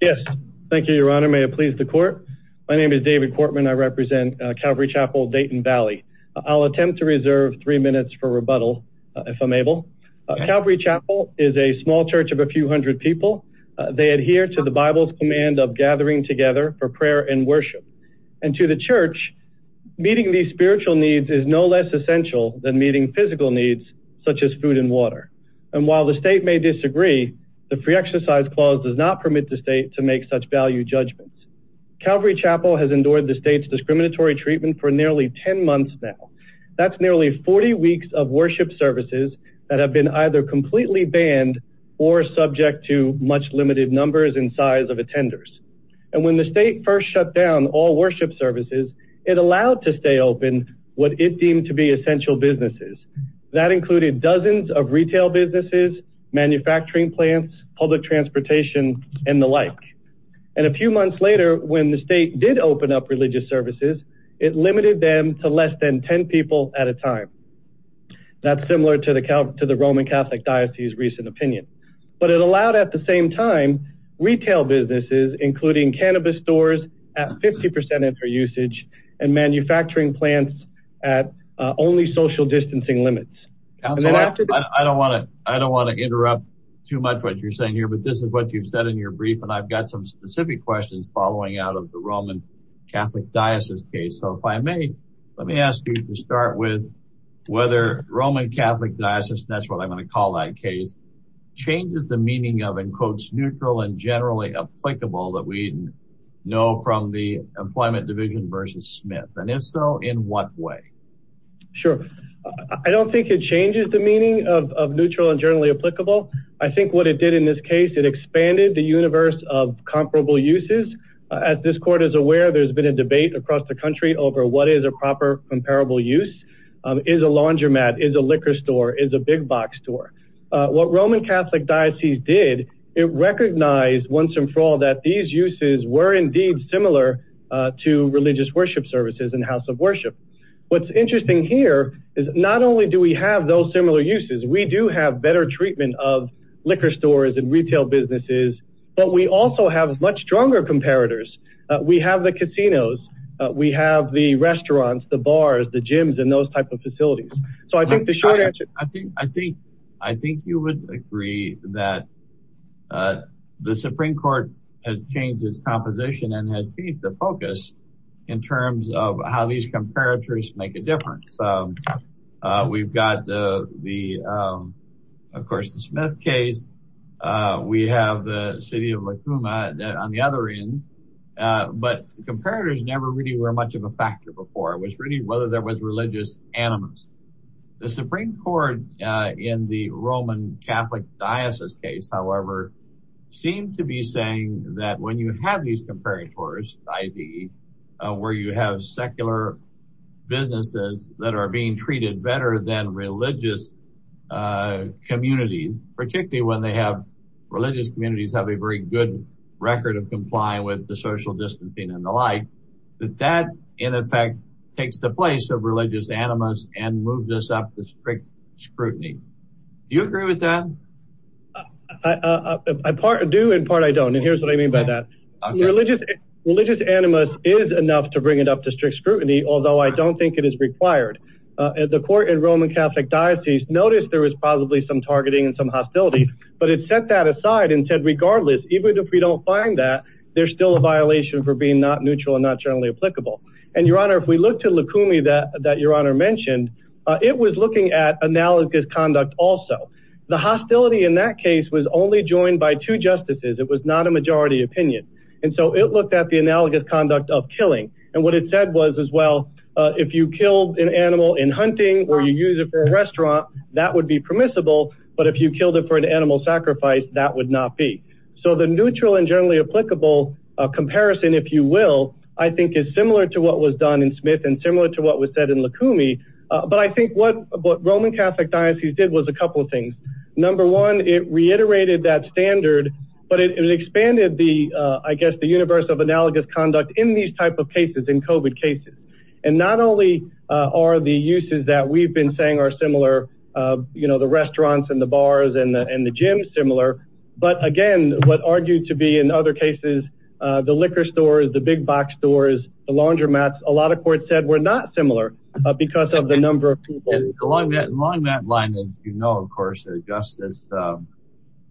yes thank you your honor may it please the court my name is David Cortman I represent Calvary Chapel Dayton Valley I'll attempt to reserve three minutes for rebuttal if I'm able Calvary Chapel is a small church of a few hundred people they adhere to the Bible's command of gathering together for prayer and worship and to the church meeting these spiritual needs is no less essential than meeting physical needs such as food and water and while the state may disagree the free exercise clause does not permit the state to make such value judgments Calvary Chapel has endured the state's discriminatory treatment for nearly 10 months now that's nearly 40 weeks of worship services that have been either completely banned or subject to much limited numbers and size of attenders and when the state first shut down all worship services it allowed to stay open what it deemed to be essential businesses that included dozens of retail businesses manufacturing plants public transportation and the like and a few months later when the state did open up religious services it limited them to less than 10 people at a time that's similar to the count to the Roman Catholic Diocese recent opinion but it allowed at the same time retail businesses including cannabis stores at social distancing limits I don't want to I don't want to interrupt too much what you're saying here but this is what you've said in your brief and I've got some specific questions following out of the Roman Catholic Diocese case so if I may let me ask you to start with whether Roman Catholic Diocese that's what I'm going to call that case changes the meaning of in quotes neutral and generally applicable that we know from the employment division versus Smith and Esso in what way sure I don't think it changes the meaning of neutral and generally applicable I think what it did in this case it expanded the universe of comparable uses as this court is aware there's been a debate across the country over what is a proper comparable use is a laundromat is a liquor store is a big box store what Roman Catholic Diocese did it recognized once and for all that these uses were indeed similar to religious worship services and house of worship what's interesting here is not only do we have those similar uses we do have better treatment of liquor stores and retail businesses but we also have much stronger comparators we have the casinos we have the restaurants the bars the gyms and those type of facilities so I think the short answer I think I think you would agree that the Supreme Court has changed its composition and has changed the focus in terms of how these comparators make a difference we've got the the of course the Smith case we have the city of Lekouma that on the other end but the comparators never really were much of a factor before it was really whether there was religious animus the Supreme Court in the Roman Catholic Diocese case however seemed to be saying that when you have these comparators ID where you have secular businesses that are being treated better than religious communities particularly when they have religious communities have a very good record of comply with the social distancing and the like that in effect takes the place of religious animus and moves us up the strict scrutiny you agree with that I do in part I don't and here's what I mean by that religious religious animus is enough to bring it up to strict scrutiny although I don't think it is required at the court in Roman Catholic Diocese notice there was possibly some targeting and some hostility but it set that aside and said regardless even if we don't find that there's still a violation for being not neutral and not generally applicable and your honor if we look to Lekoumi that that your honor mentioned it was looking at analogous conduct also the hostility in that case was only joined by two justices it was not a majority opinion and so it looked at the analogous conduct of killing and what it said was as well if you killed an animal in hunting or you use it for a restaurant that would be permissible but if you killed it for an animal sacrifice that would not be so the neutral and generally applicable comparison if you will I think is similar to what was done in Smith and similar to what was said in Lekoumi but I think what what Roman Catholic Diocese did was a couple of things number one it reiterated that standard but it expanded the I guess the universe of analogous conduct in these type of cases in COVID cases and not only are the uses that we've been saying are similar you know the restaurants and bars and and the gyms similar but again what argued to be in other cases the liquor stores the big-box stores the laundromats a lot of court said we're not similar because of the number of people along that line that you know of course justice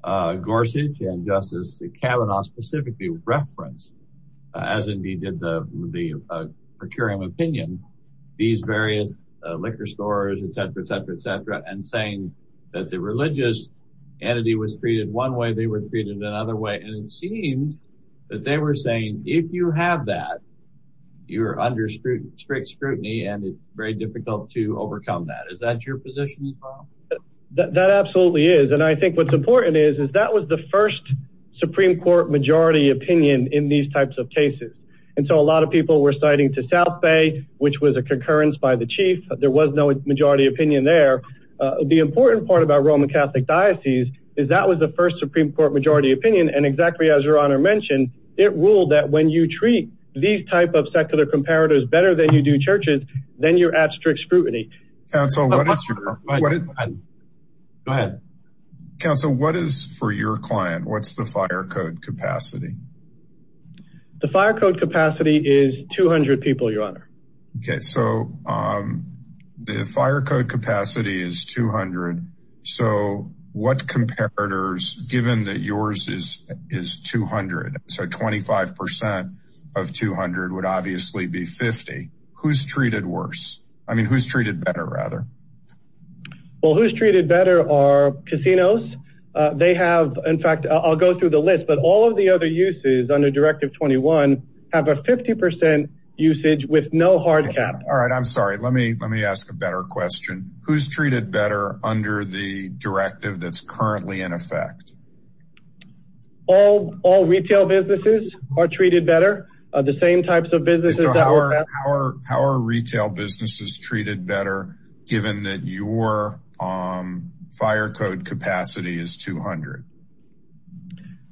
Gorsuch and justice Kavanaugh specifically referenced as indeed did the procuring opinion these various liquor stores etc etc etc and saying that the religious entity was treated one way they were treated in another way and it seems that they were saying if you have that you're under scrutiny strict scrutiny and it's very difficult to overcome that is that your position that absolutely is and I think what's important is is that was the first Supreme Court majority opinion in these types of cases and so a lot of people were citing to South Bay which was a concurrence by the chief there was no majority opinion there the important part about Roman Catholic Diocese is that was the first Supreme Court majority opinion and exactly as your honor mentioned it ruled that when you treat these type of secular comparators better than you do churches then you're at strict scrutiny so what is for your client what's the fire code capacity the fire code capacity is 200 people your okay so the fire code capacity is 200 so what comparators given that yours is is 200 so 25% of 200 would obviously be 50 who's treated worse I mean who's treated better rather well who's treated better are casinos they have in fact I'll go through the list but all of the other uses under directive 21 have a 50% usage with no hard cap all right I'm sorry let me let me ask a better question who's treated better under the directive that's currently in effect all all retail businesses are treated better the same types of business our power retail business is treated better given that you were on fire code capacity is 200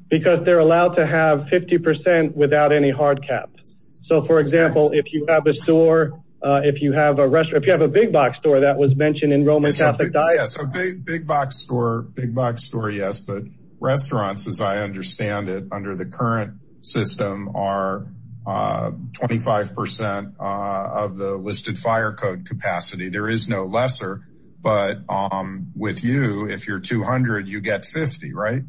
because they're allowed to have 50% without any hard caps so for example if you have a store if you have a restaurant if you have a big-box store that was mentioned in Roman Catholic Diocese big-box store big-box store yes but restaurants as I understand it under the current system are 25% of the listed fire code capacity there is no lesser but with you if you're 200 you get 50 right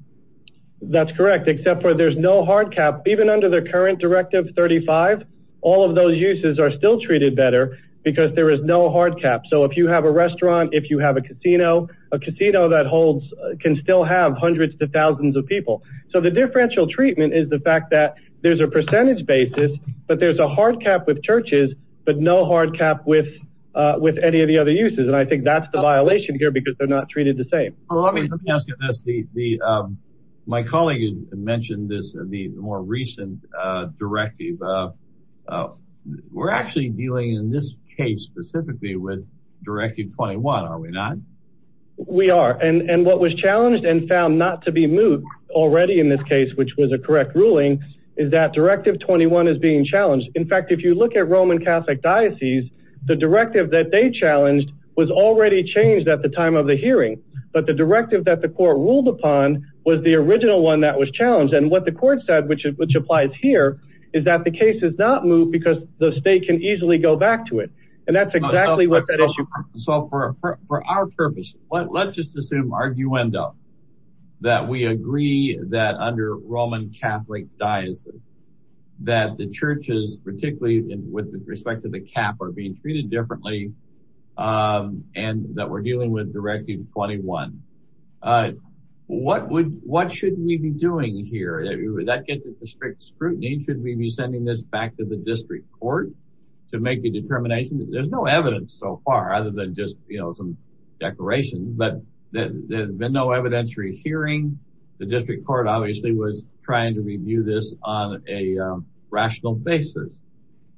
that's correct except for there's no hard cap even under the current directive 35 all of those uses are still treated better because there is no hard cap so if you have a restaurant if you have a casino a casino that holds can still have hundreds to thousands of people so the differential treatment is the fact that there's a percentage basis but there's a hard cap with churches but no hard cap with with any of the other uses and I think that's the violation here because they're not treated the same my colleague mentioned this the more recent directive we're actually dealing in this case specifically with Directive 21 are we not we are and and what was challenged and found not to be moot already in this case which was a correct ruling is that Directive 21 is being challenged in fact if you look at Roman Catholic Diocese the directive that they challenged was already changed at the time of the hearing but the directive that the court ruled upon was the original one that was challenged and what the court said which is which applies here is that the case is not moot because the state can easily go back to it and that's exactly what that issue so for our purpose what let's just assume arguendo that we agree that under Roman Catholic Diocese that the churches particularly with the respect of the cap are being treated differently and that we're dealing with Directive 21 what would what should we be doing here that gets a strict scrutiny should we be sending this back to the district court to make a determination there's no evidence so far other than just you know some declaration but there's been no evidentiary hearing the district court obviously was trying to review this on a rational basis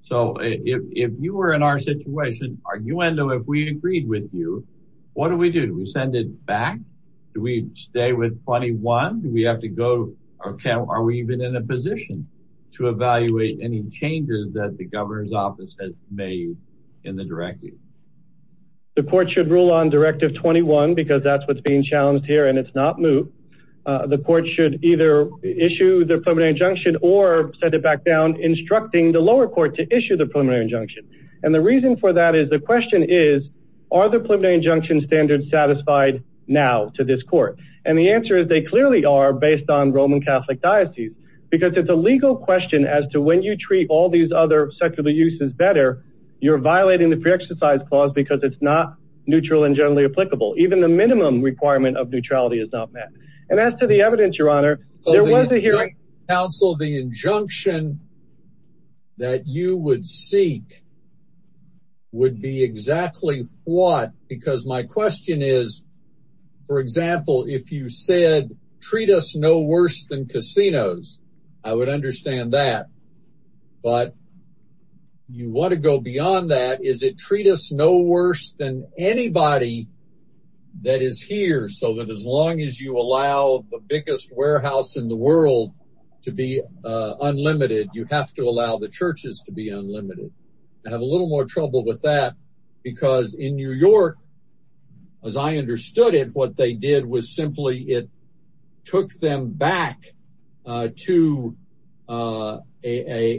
so if you were in our situation arguendo if we agreed with you what do we do we send it back do we stay with 21 we have to go okay are we even in a position to evaluate any changes that the governor's office has made in the directive the court should rule on Directive 21 because that's what's being challenged here and it's not moot the court should either issue the preliminary injunction or send it back down instructing the lower court to issue the preliminary injunction and the reason for that is the question is are the preliminary injunction standards satisfied now to this court and the answer is they clearly are based on Roman Catholic Diocese because it's a legal question as to when you treat all these other secular uses better you're violating the pre-exercise clause because it's not neutral and generally applicable even the minimum requirement of neutrality is not met and as to the evidence your honor there was a hearing counsel the injunction that you would seek would be exactly what because my question is for example if you said treat us no worse than casinos I would understand that but you want to go beyond that is it treat us no worse than anybody that is here so that as long as you allow the biggest warehouse in the world to be unlimited you have to allow the churches to be unlimited I have a little more trouble with that because in New York as I understood it what they did was simply it took them back to a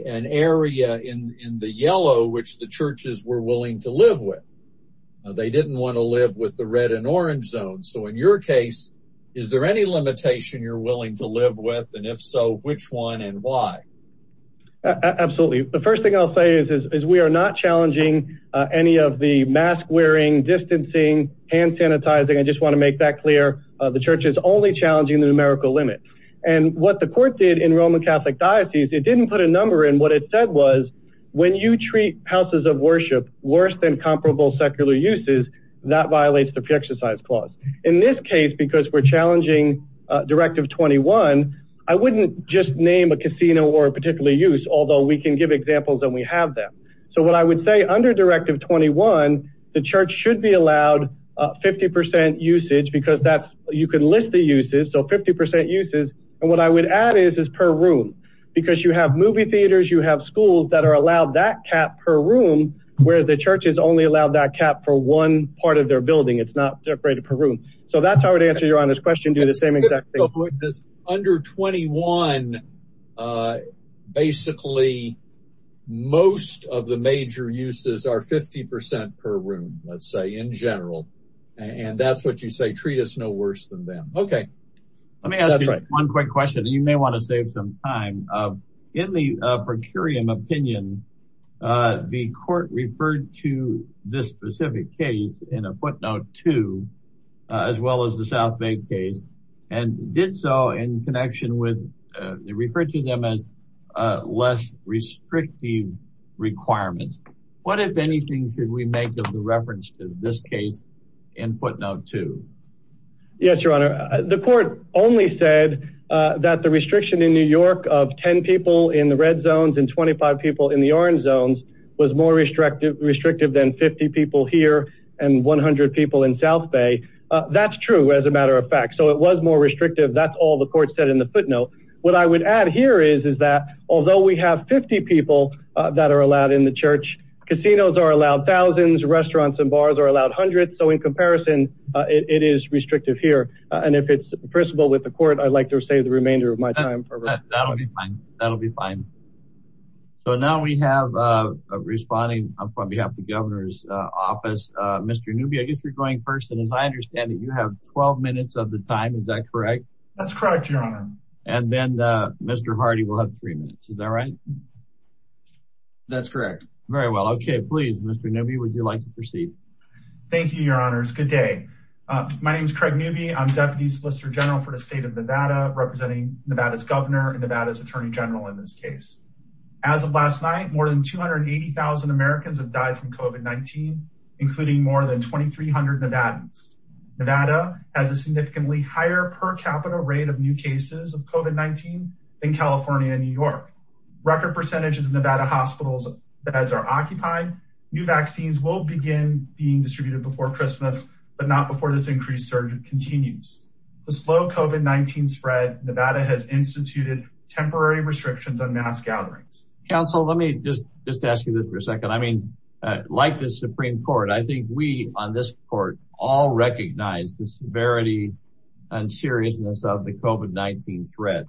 an area in the yellow which the churches were willing to live with they didn't want to live with the red and orange zone so in your case is there any limitation you're willing to live with and if so which one and why absolutely the first thing I'll say is is we are not challenging any of the mask wearing distancing hand sanitizing I just want to make that clear the church is only challenging the numerical limit and what the court did in Roman Catholic Diocese it didn't put a number in what it said was when you treat houses of worship worse than comparable secular uses that violates the pre-exercise clause in this case because we're challenging directive 21 I wouldn't just name a casino or particularly use although we can give examples and we have them so what I would say under directive 21 the church should be allowed 50% usage because that you can list the uses so 50% uses and what I would add is is per room because you have movie theaters you have schools that are allowed that cap per room where the church is only allowed that cap for one part of their building it's not separated per room so that's how I would answer your honest question do the same exact thing this under 21 basically most of the major uses are 50% per room let's say in general and that's what you say treat us no worse than them okay let me ask you one quick question you may want to save some time in the per curiam opinion the court referred to this specific case in a footnote to as well as the South Bank case and did so in connection with referred to them as less restrictive requirements what if anything should we make of the reference to this case in footnote to yes your honor the court only said that the restriction in New York of 10 people in the red zones and 25 people in the orange zones was more restrictive restrictive than 50 people here and 100 people in South Bay that's true as a matter of fact so it was more restrictive that's all the court said in the footnote what I would add here is is that although we have 50 people that are allowed in the church casinos are allowed thousands restaurants and bars are allowed hundreds so in comparison it is restrictive here and if it's principle with the court I'd like to say the remainder of my time that'll be fine so now we have a responding on behalf of mr. newbie I guess you're going first and as I understand that you have 12 minutes of the time is that correct that's correct your honor and then mr. Hardy will have three minutes is that right that's correct very well okay please mr. newbie would you like to proceed thank you your honors good day my name is Craig newbie I'm deputy solicitor general for the state of Nevada representing Nevada's governor and Nevada's attorney general in this case as of last night more than 280,000 Americans have died from COVID-19 including more than 2,300 Nevadans Nevada has a significantly higher per capita rate of new cases of COVID-19 in California and New York record percentages of Nevada hospitals beds are occupied new vaccines will begin being distributed before Christmas but not before this increased surge continues the slow COVID-19 spread Nevada has instituted temporary restrictions on mass gatherings counsel let me just just ask you this for a second I mean like the Supreme Court I think we on this court all recognize the severity and seriousness of the COVID-19 threat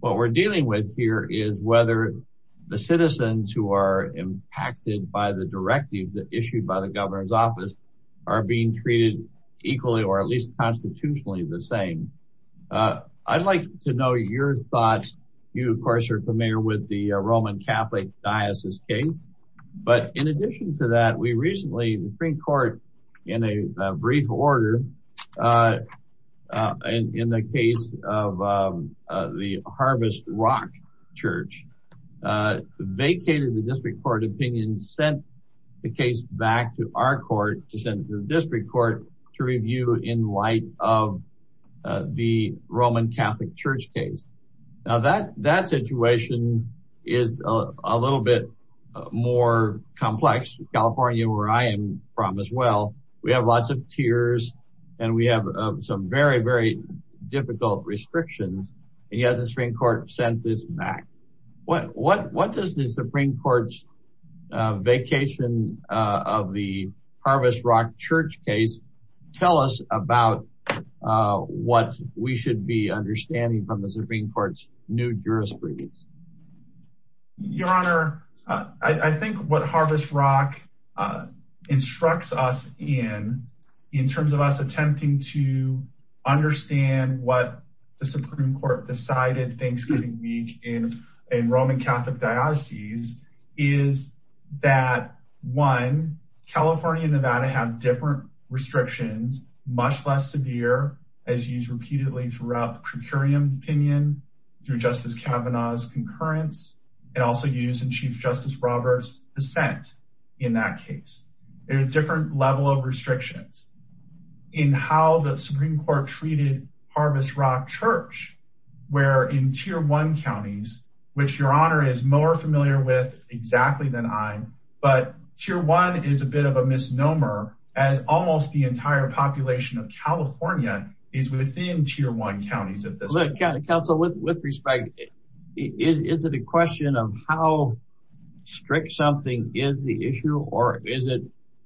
what we're dealing with here is whether the citizens who are impacted by the directive that issued by the governor's office are being treated equally or at least constitutionally the same I'd like to know your thoughts you of course are familiar with the Roman Catholic Diocese case but in addition to that we recently the Supreme Court in a brief order and in the case of the Harvest Rock Church vacated the district court opinion sent the case back to our court to send to the district court to review in light of the Roman Catholic Church case now that that situation is a little bit more complex California where I am from as well we have lots of tears and we have some very very difficult restrictions and yet the Supreme Court sent this back what what what does the Supreme Court's vacation of the Harvest Rock Church case tell us about what we should be understanding from the I think what Harvest Rock instructs us in in terms of us attempting to understand what the Supreme Court decided Thanksgiving week in in Roman Catholic Diocese is that one California and Nevada have different restrictions much less severe as used repeatedly throughout per curiam opinion through justice Kavanaugh's concurrence and also used in Chief Justice Robert's dissent in that case there's different level of restrictions in how the Supreme Court treated Harvest Rock Church where in tier one counties which your honor is more familiar with exactly than I'm but tier one is a bit of a misnomer as almost the entire population of California is within tier one counties council with respect is it a question of how strict something is the issue or is it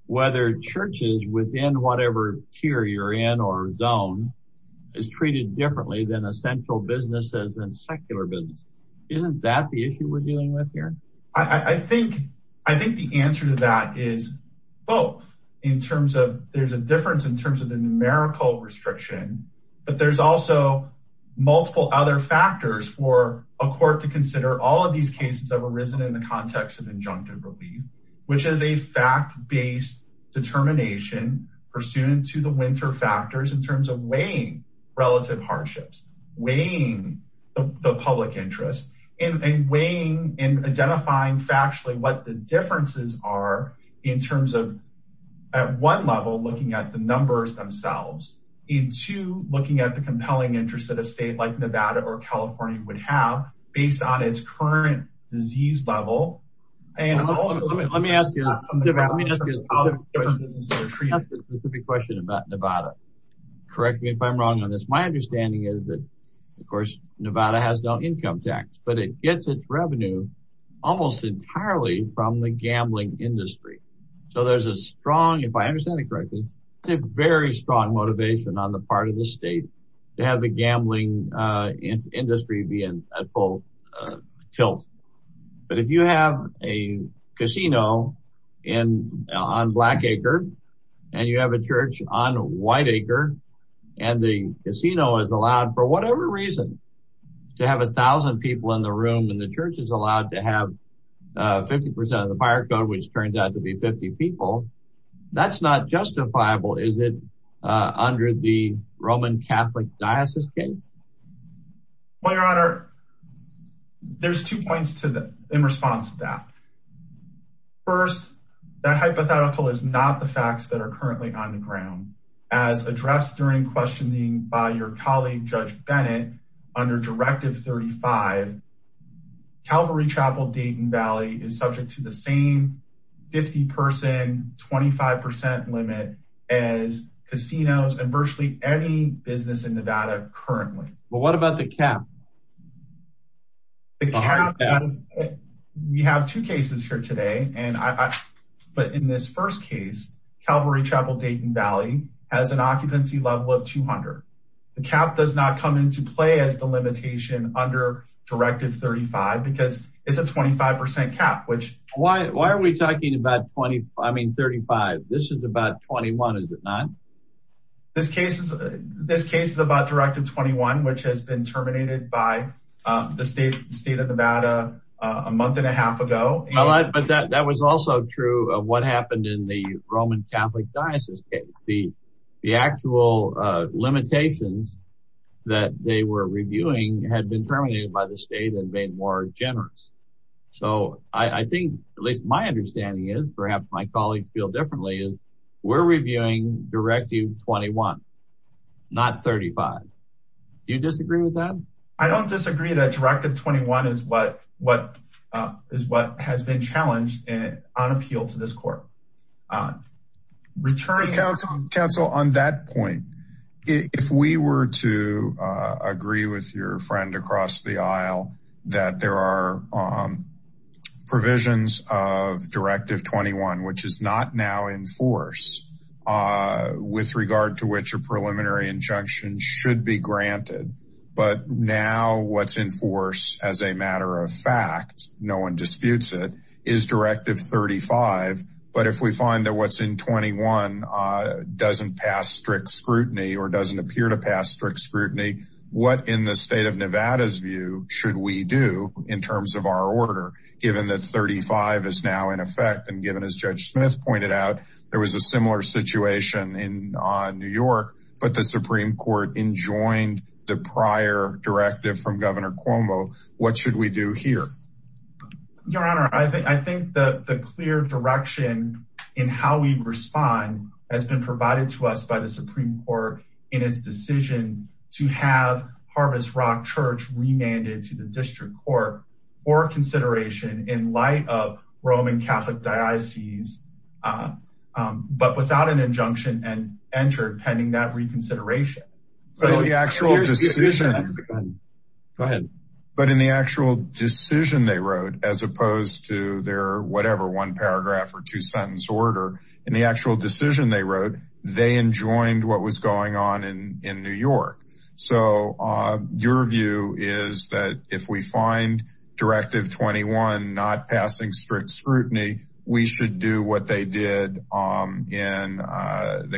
whether churches within whatever tier you're in or zone is treated differently than essential businesses and secular business isn't that the issue we're dealing with here I think I think the answer to that is both in terms of there's a difference in terms of the numerical restriction but there's also multiple other factors for a court to consider all of these cases that were risen in the context of injunctive relief which is a fact based determination pursuant to the winter factors in terms of weighing relative hardships weighing the public interest in weighing in identifying factually what the differences are in terms of at one level looking at the numbers themselves into looking at the compelling interest that a state like Nevada or California would have based on its current disease level and also let me ask you a specific question about Nevada correct me if I'm wrong on this my understanding is that of course Nevada has no income tax but it gets its from the gambling industry so there's a strong if I understand it correctly a very strong motivation on the part of the state to have the gambling industry be in a full tilt but if you have a casino and on Blackacre and you have a church on Whiteacre and the casino is allowed for whatever reason to have a 50% of the fire code which turns out to be 50 people that's not justifiable is it under the Roman Catholic diocese case well your honor there's two points to that in response to that first that hypothetical is not the facts that are currently on the ground as addressed during questioning by your colleague judge Bennett under directive 35 Calvary Chapel Dayton Valley is subject to the same 50 person 25% limit as casinos and virtually any business in Nevada currently but what about the cap we have two cases here today and I but in this first case Calvary Chapel Dayton Valley has an occupancy level of 200 the cap does not come into play as the 35 because it's a 25% cap which why are we talking about 20 I mean 35 this is about 21 is it not this case is this case is about directive 21 which has been terminated by the state state of Nevada a month and a half ago but that that was also true of what happened in the Roman Catholic diocese the the limitations that they were reviewing had been terminated by the state and made more generous so I think at least my understanding is perhaps my colleagues feel differently is we're reviewing directive 21 not 35 you disagree with that I don't disagree that directive 21 is what what is what has been challenged and on appeal to this court returning counsel counsel on that point if we were to agree with your friend across the aisle that there are provisions of directive 21 which is not now in force with regard to which a preliminary injunction should be granted but now what's in force as a matter of fact no one disputes it is directive 35 but if we find that what's in 21 doesn't pass strict scrutiny or doesn't appear to pass strict scrutiny what in the state of Nevada's view should we do in terms of our order given that 35 is now in effect and given as Judge Smith pointed out there was a similar situation in New York but the Supreme Court enjoined the prior directive from Governor Cuomo what should we do here your honor I think I think that the clear direction in how we respond has been provided to us by the Supreme Court in its decision to have Harvest Rock Church remanded to the district court for consideration in light of Roman Catholic diocese but without an injunction and entered pending that reconsideration so the actual decision but in the actual decision they wrote as opposed to their whatever one paragraph or two sentence order in the actual decision they wrote they enjoined what was going on in in New York so your view is that if we find directive 21 not passing strict scrutiny we should do what they did in the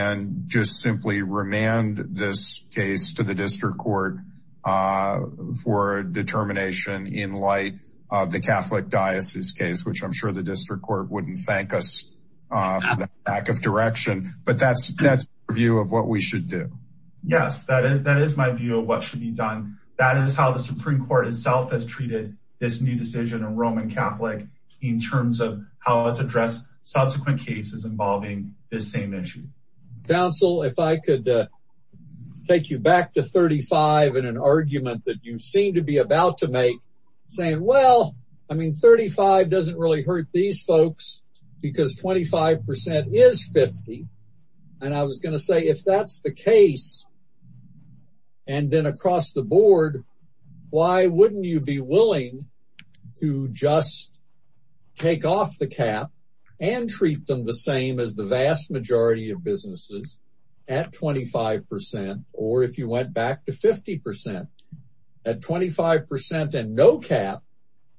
and this case to the district court for determination in light of the Catholic diocese case which I'm sure the district court wouldn't thank us back of direction but that's that's a view of what we should do yes that is that is my view of what should be done that is how the Supreme Court itself has treated this new decision in Roman Catholic in terms of how it's addressed subsequent cases involving this same issue council if I could take you back to 35 in an argument that you seem to be about to make saying well I mean 35 doesn't really hurt these folks because 25% is 50 and I was gonna say if that's the case and then across the board why wouldn't you be willing to just take off the cap and treat them the same as the vast majority of businesses at 25% or if you went back to 50% at 25% and no cap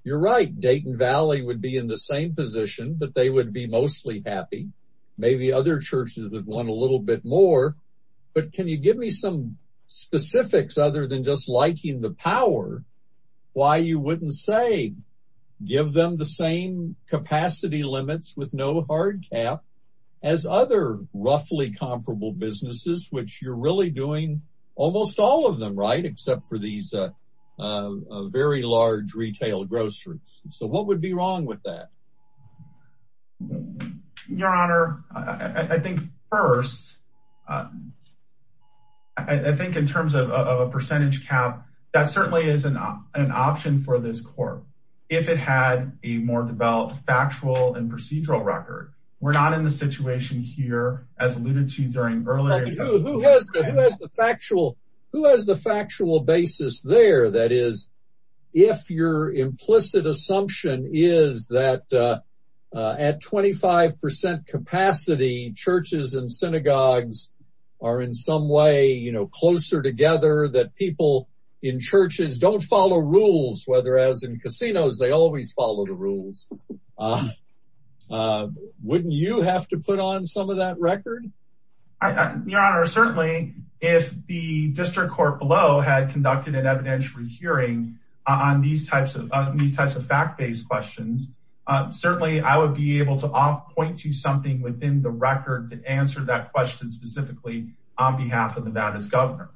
you're right Dayton Valley would be in the same position but they would be mostly happy maybe other churches that want a little bit more but can you give me some specifics other than just with no hard cap as other roughly comparable businesses which you're really doing almost all of them right except for these very large retail groceries so what would be wrong with that your honor I think first I think in terms of a percentage cap that certainly is an option for this court if it had a more developed factual and procedural record we're not in the situation here as alluded to during earlier factual who has the factual basis there that is if your implicit assumption is that at 25% capacity churches and synagogues are in some way you know closer together that people in churches don't follow rules whether as in casinos they always follow the rules wouldn't you have to put on some of that record your honor certainly if the district court below had conducted an evidentiary hearing on these types of these types of fact-based questions certainly I would be able to all point to something within the record to answer that question specifically on behalf of the baddest governor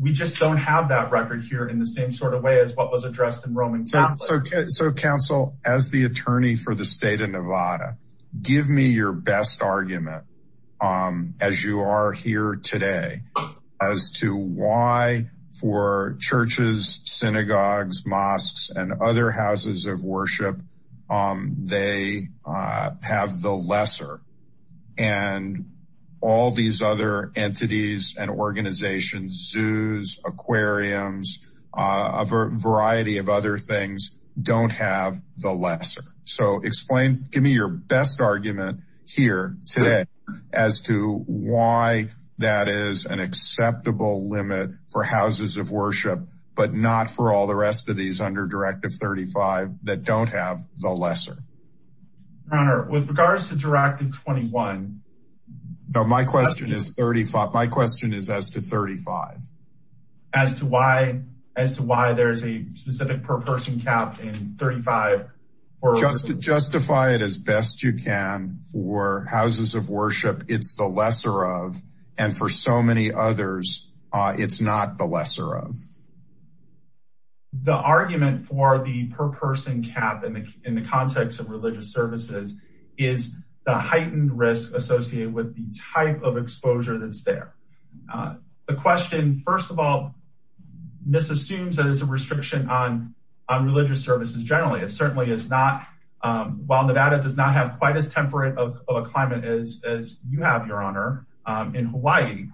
we just don't have that record here in the same sort of way as what was addressed in Roman so okay so counsel as the attorney for the state of Nevada give me your best argument as you are here today as to why for churches synagogues mosques and other houses of worship they have the lesser and all these other entities and organizations zoos aquariums a variety of other things don't have the lesser so explain give me your best argument here today as to why that is an acceptable limit for houses of worship but not for all the rest of these under directive 35 that don't have the lesser honor with regards to directive 21 no my question is 35 my question is as to 35 as to why as to why there's a specific per person capped in 35 or just to justify it as best you can for houses of worship it's the lesser of and for so many others it's not the lesser of the argument for the per person cap in the context of religious services is the exposure that's there the question first of all miss assumes that is a restriction on religious services generally it certainly is not while Nevada does not have quite as temperate of a climate as you have your honor in Hawaii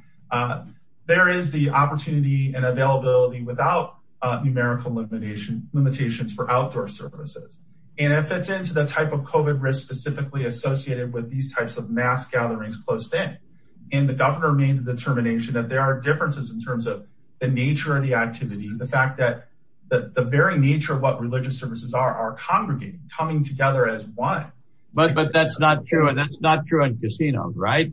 there is the opportunity and availability without numerical limitation limitations for outdoor services and if it's into the type of mass gatherings close thing in the governor made a determination that there are differences in terms of the nature of the activities the fact that the very nature of what religious services are are congregate coming together as one but but that's not true and that's not true in casinos right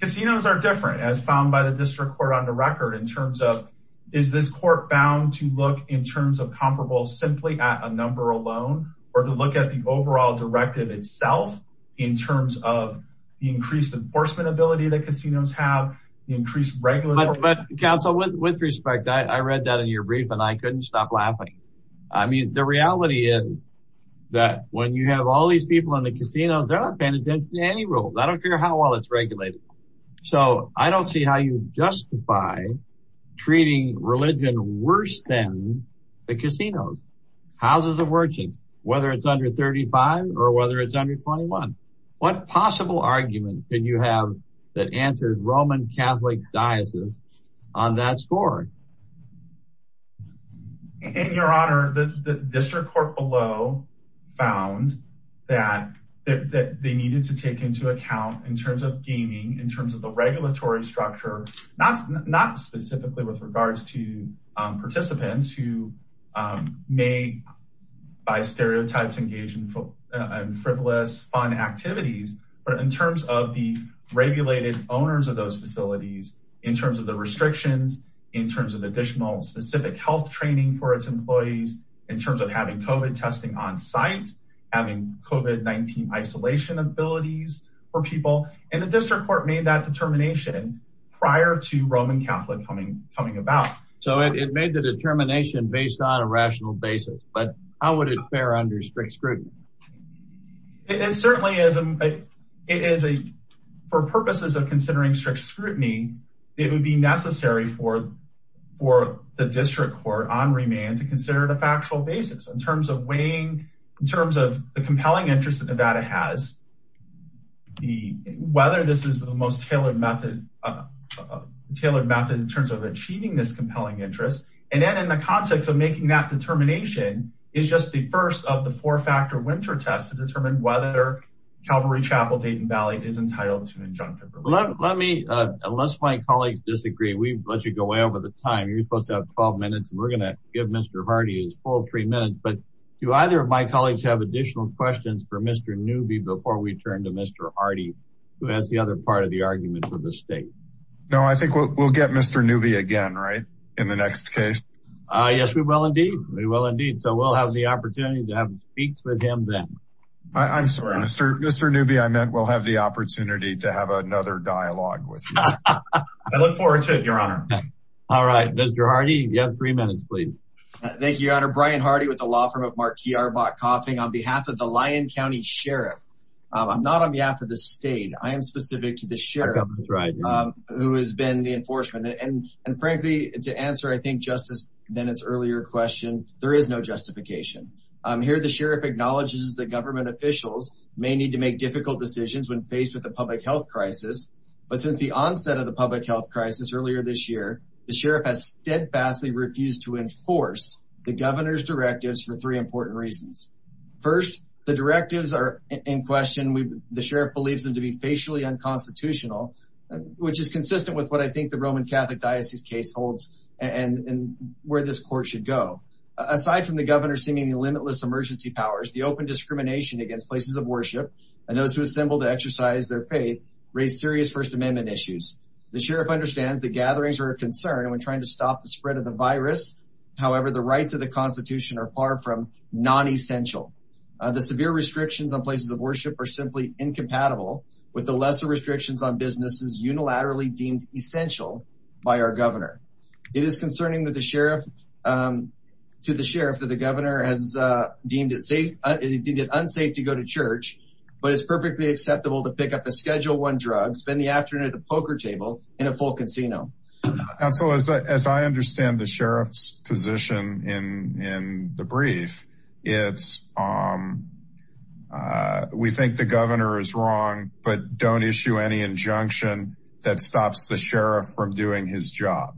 casinos are different as found by the district court on the record in terms of is this court bound to look in terms of comparable simply at a number alone or to look at the overall directive itself in terms of the increased enforcement ability that casinos have increased regular but council with respect I read that in your brief and I couldn't stop laughing I mean the reality is that when you have all these people in the casino they're not paying attention to any rule I don't care how well it's regulated so I don't see how you justify treating religion worse than the casinos houses of worship whether it's under 35 or whether it's under 21 what possible argument did you have that answered Roman Catholic diocese on that score in your honor the district court below found that they needed to take into account in terms of gaming in terms of the regulatory structure not not specifically with regards to participants who may buy stereotypes engagement and frivolous fun activities but in terms of the regulated owners of those facilities in terms of the restrictions in terms of additional specific health training for its employees in terms of having COVID testing on-site having COVID-19 isolation abilities for people and the prior to Roman Catholic coming coming about so it made the determination based on a rational basis but how would it bear under strict scrutiny it certainly isn't it is a for purposes of considering strict scrutiny it would be necessary for for the district court on remand to consider the factual basis in terms of weighing in terms of the compelling interest that Nevada has the whether this is the most tailored method tailored method in terms of achieving this compelling interest and then in the context of making that determination is just the first of the four factor winter test to determine whether Calvary Chapel Dayton Valley is entitled to an injunctive let me unless my colleagues disagree we let you go away over the time you're supposed to have 12 minutes and we're gonna give mr. Hardy his full three minutes but do either of my colleagues have additional questions for mr. newbie before we turn to mr. Hardy who has the other part of the argument for the state no I think we'll get mr. newbie again right in the next case yes we will indeed we will indeed so we'll have the opportunity to have speaks with him then I'm sorry mr. mr. newbie I meant we'll have the opportunity to have another dialogue with I look forward to it your honor all right mr. Hardy you have three minutes please thank you your honor Brian Hardy with the law firm of Marquis are bought on behalf of the Lyon County Sheriff I'm not on behalf of the state I am specific to the sheriff who has been the enforcement and and frankly to answer I think justice then it's earlier question there is no justification here the sheriff acknowledges the government officials may need to make difficult decisions when faced with the public health crisis but since the onset of the public health crisis earlier this year the sheriff has steadfastly refused to first the directives are in question we the sheriff believes them to be facially unconstitutional which is consistent with what I think the Roman Catholic Diocese case holds and where this court should go aside from the governor seemingly limitless emergency powers the open discrimination against places of worship and those who assemble to exercise their faith raise serious First Amendment issues the sheriff understands the gatherings are a concern when trying to stop the spread of the virus however the rights of the the severe restrictions on places of worship are simply incompatible with the lesser restrictions on businesses unilaterally deemed essential by our governor it is concerning that the sheriff to the sheriff that the governor has deemed it safe it did it unsafe to go to church but it's perfectly acceptable to pick up a schedule one drug spend the afternoon at the poker table in a full casino and so as I understand the sheriff's position in the brief it's we think the governor is wrong but don't issue any injunction that stops the sheriff from doing his job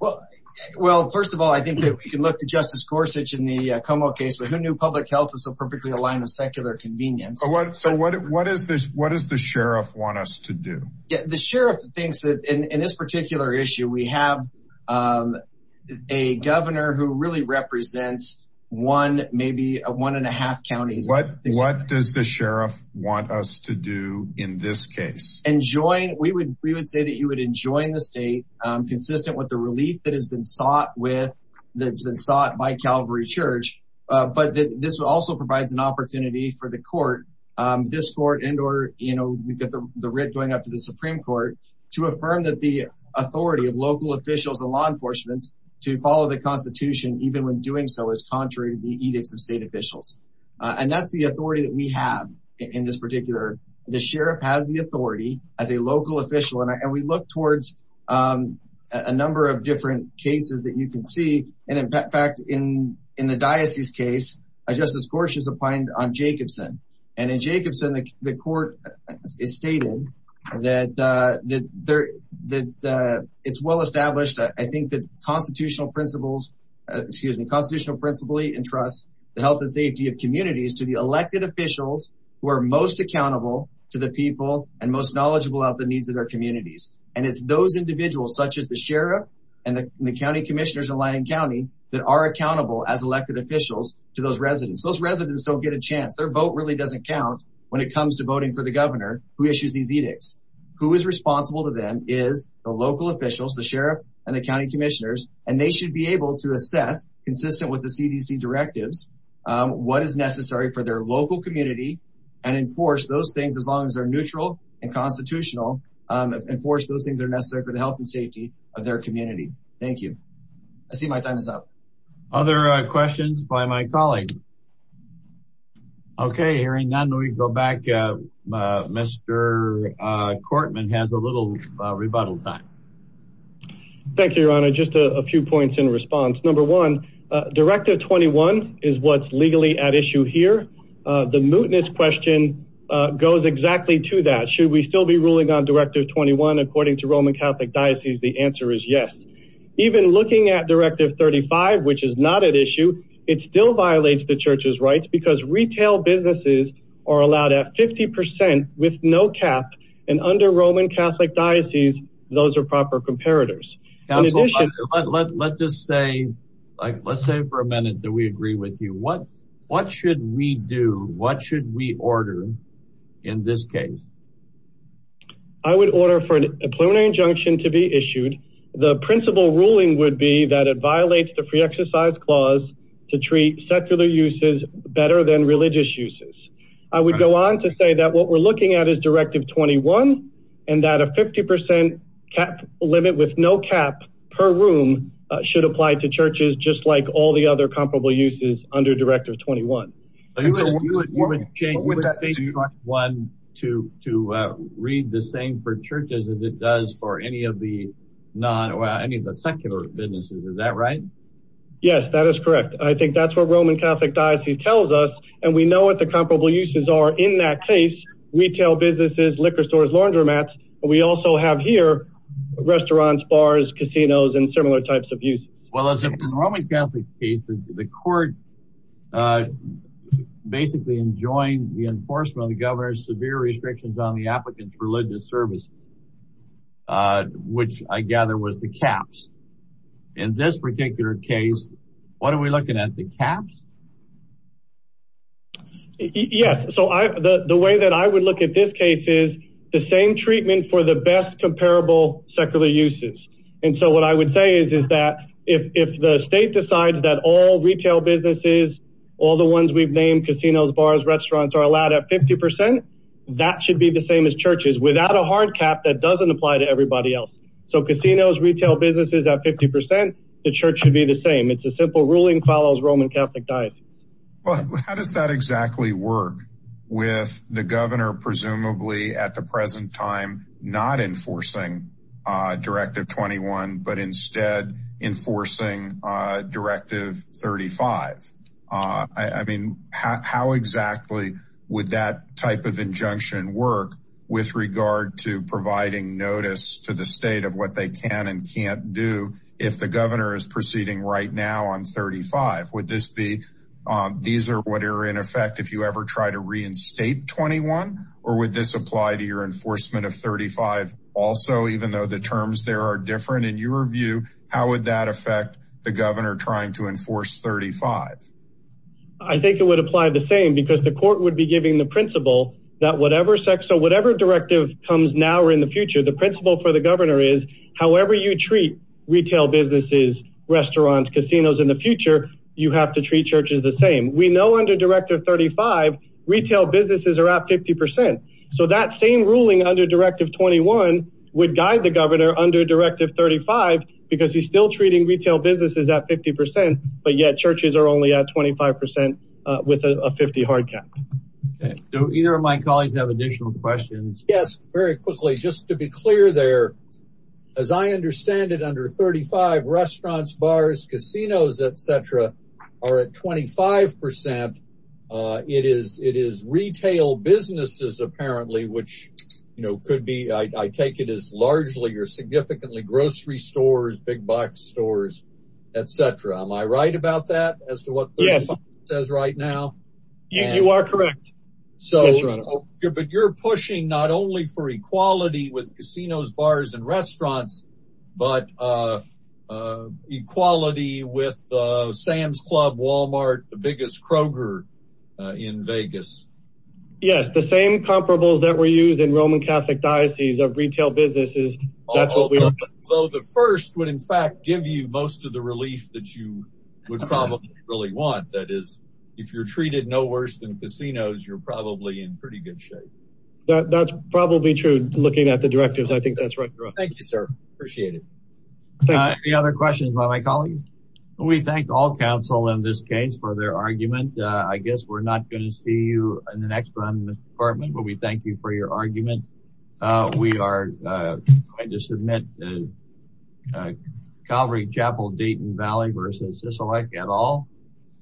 well well first of all I think that we can look to Justice Gorsuch in the Como case but who knew public health is so perfectly aligned with secular convenience what so what what is this what does the sheriff want us to do the sheriff thinks that in this particular issue we have a governor who really represents one maybe a one and a half counties what what does the sheriff want us to do in this case and join we would we would say that you would enjoin the state consistent with the relief that has been sought with that's been sought by Calvary Church but this also provides an opportunity for the court this court and or you know we get the writ going up Supreme Court to affirm that the authority of local officials and law enforcement to follow the Constitution even when doing so is contrary to the edicts of state officials and that's the authority that we have in this particular the sheriff has the authority as a local official and we look towards a number of different cases that you can see and in fact in in the diocese case justice Gorsuch is applying on Jacobson and in Jacobson the court is stated that that there that it's well established I think that constitutional principles excuse me constitutional principally and trust the health and safety of communities to the elected officials who are most accountable to the people and most knowledgeable of the needs of their communities and it's those individuals such as the sheriff and the county commissioners in Lyon County that are residents those residents don't get a chance their vote really doesn't count when it comes to voting for the governor who issues these edicts who is responsible to them is the local officials the sheriff and the county commissioners and they should be able to assess consistent with the CDC directives what is necessary for their local community and enforce those things as long as they're neutral and constitutional enforce those things are necessary for the health and safety of their community thank you I see my time other questions by my colleague okay hearing none we go back mr. Cortman has a little rebuttal time thank you your honor just a few points in response number one directive 21 is what's legally at issue here the mootness question goes exactly to that should we still be ruling on directive 21 according to Roman Catholic Diocese the answer is yes even looking at directive 35 which is not at issue it still violates the church's rights because retail businesses are allowed at 50% with no cap and under Roman Catholic Diocese those are proper comparators let's just say like let's say for a minute that we agree with you what what should we do what should we order in this case I would order for an a plenary injunction to be issued the principal ruling would be that it violates the free exercise clause to treat secular uses better than religious uses I would go on to say that what we're looking at is directive 21 and that a 50% cap limit with no cap per room should apply to churches just like all the other comparable uses under directive 21 one to to read the same for churches as it does for any of the non or any of the secular businesses is that right yes that is correct I think that's what Roman Catholic Diocese tells us and we know what the comparable uses are in that case retail businesses liquor stores laundromats we also have here restaurants bars casinos and similar types of use well as Roman Catholic cases the court basically enjoying the enforcement of the governor's severe restrictions on the applicant's religious service which I gather was the caps in this particular case what are we looking at the caps yes so I the way that I would look at this case is the same treatment for the best comparable secular uses and so what I would say is is that if the state decides that all retail businesses all the ones we've named casinos bars restaurants are should be the same as churches without a hard cap that doesn't apply to everybody else so casinos retail businesses at 50% the church should be the same it's a simple ruling follows Roman Catholic Diocese well how does that exactly work with the governor presumably at the present time not enforcing directive 21 but instead enforcing directive 35 I mean how exactly would that type of injunction work with regard to providing notice to the state of what they can and can't do if the governor is proceeding right now on 35 would this be these are what are in effect if you ever try to reinstate 21 or would this apply to your enforcement of 35 also even though the terms there are different in your view how would that affect the governor trying to enforce 35 I think it would apply the same because the court would be giving the principle that whatever sex or whatever directive comes now or in the future the principle for the governor is however you treat retail businesses restaurants casinos in the future you have to treat churches the same we know under directive 35 retail businesses are at 50% so that same ruling under directive 21 would guide the governor under directive 35 because he's still treating retail businesses at 50% but yet churches are only at 25% with a 50 hard cap so either of my colleagues have additional questions yes very quickly just to be clear there as I understand it under 35 restaurants bars casinos etc are at 25% it is it is retail businesses apparently which you know could be I take it as largely or significantly grocery stores big box stores etc am I right about that as to what says right now you are correct so but you're pushing not only for equality with casinos bars and restaurants but equality with Sam's Club Walmart the biggest Kroger in Vegas yes the same comparables that were used in Roman Catholic diocese of retail businesses although the first would in fact give you most of the relief that you would probably really want that is if you're treated no worse than casinos you're probably in pretty good shape that's probably true looking at the directives I think that's right thank you sir appreciate it thank you other questions by my colleagues we thank all counsel in this case for their argument I guess we're not going to see you in the next one department but we thank you for your argument we are I just admit Calvary Chapel Dayton Valley versus this alike at all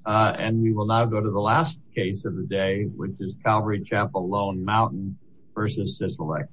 and we will now go to the last case of the day which is Calvary Chapel Lone Mountain versus this elect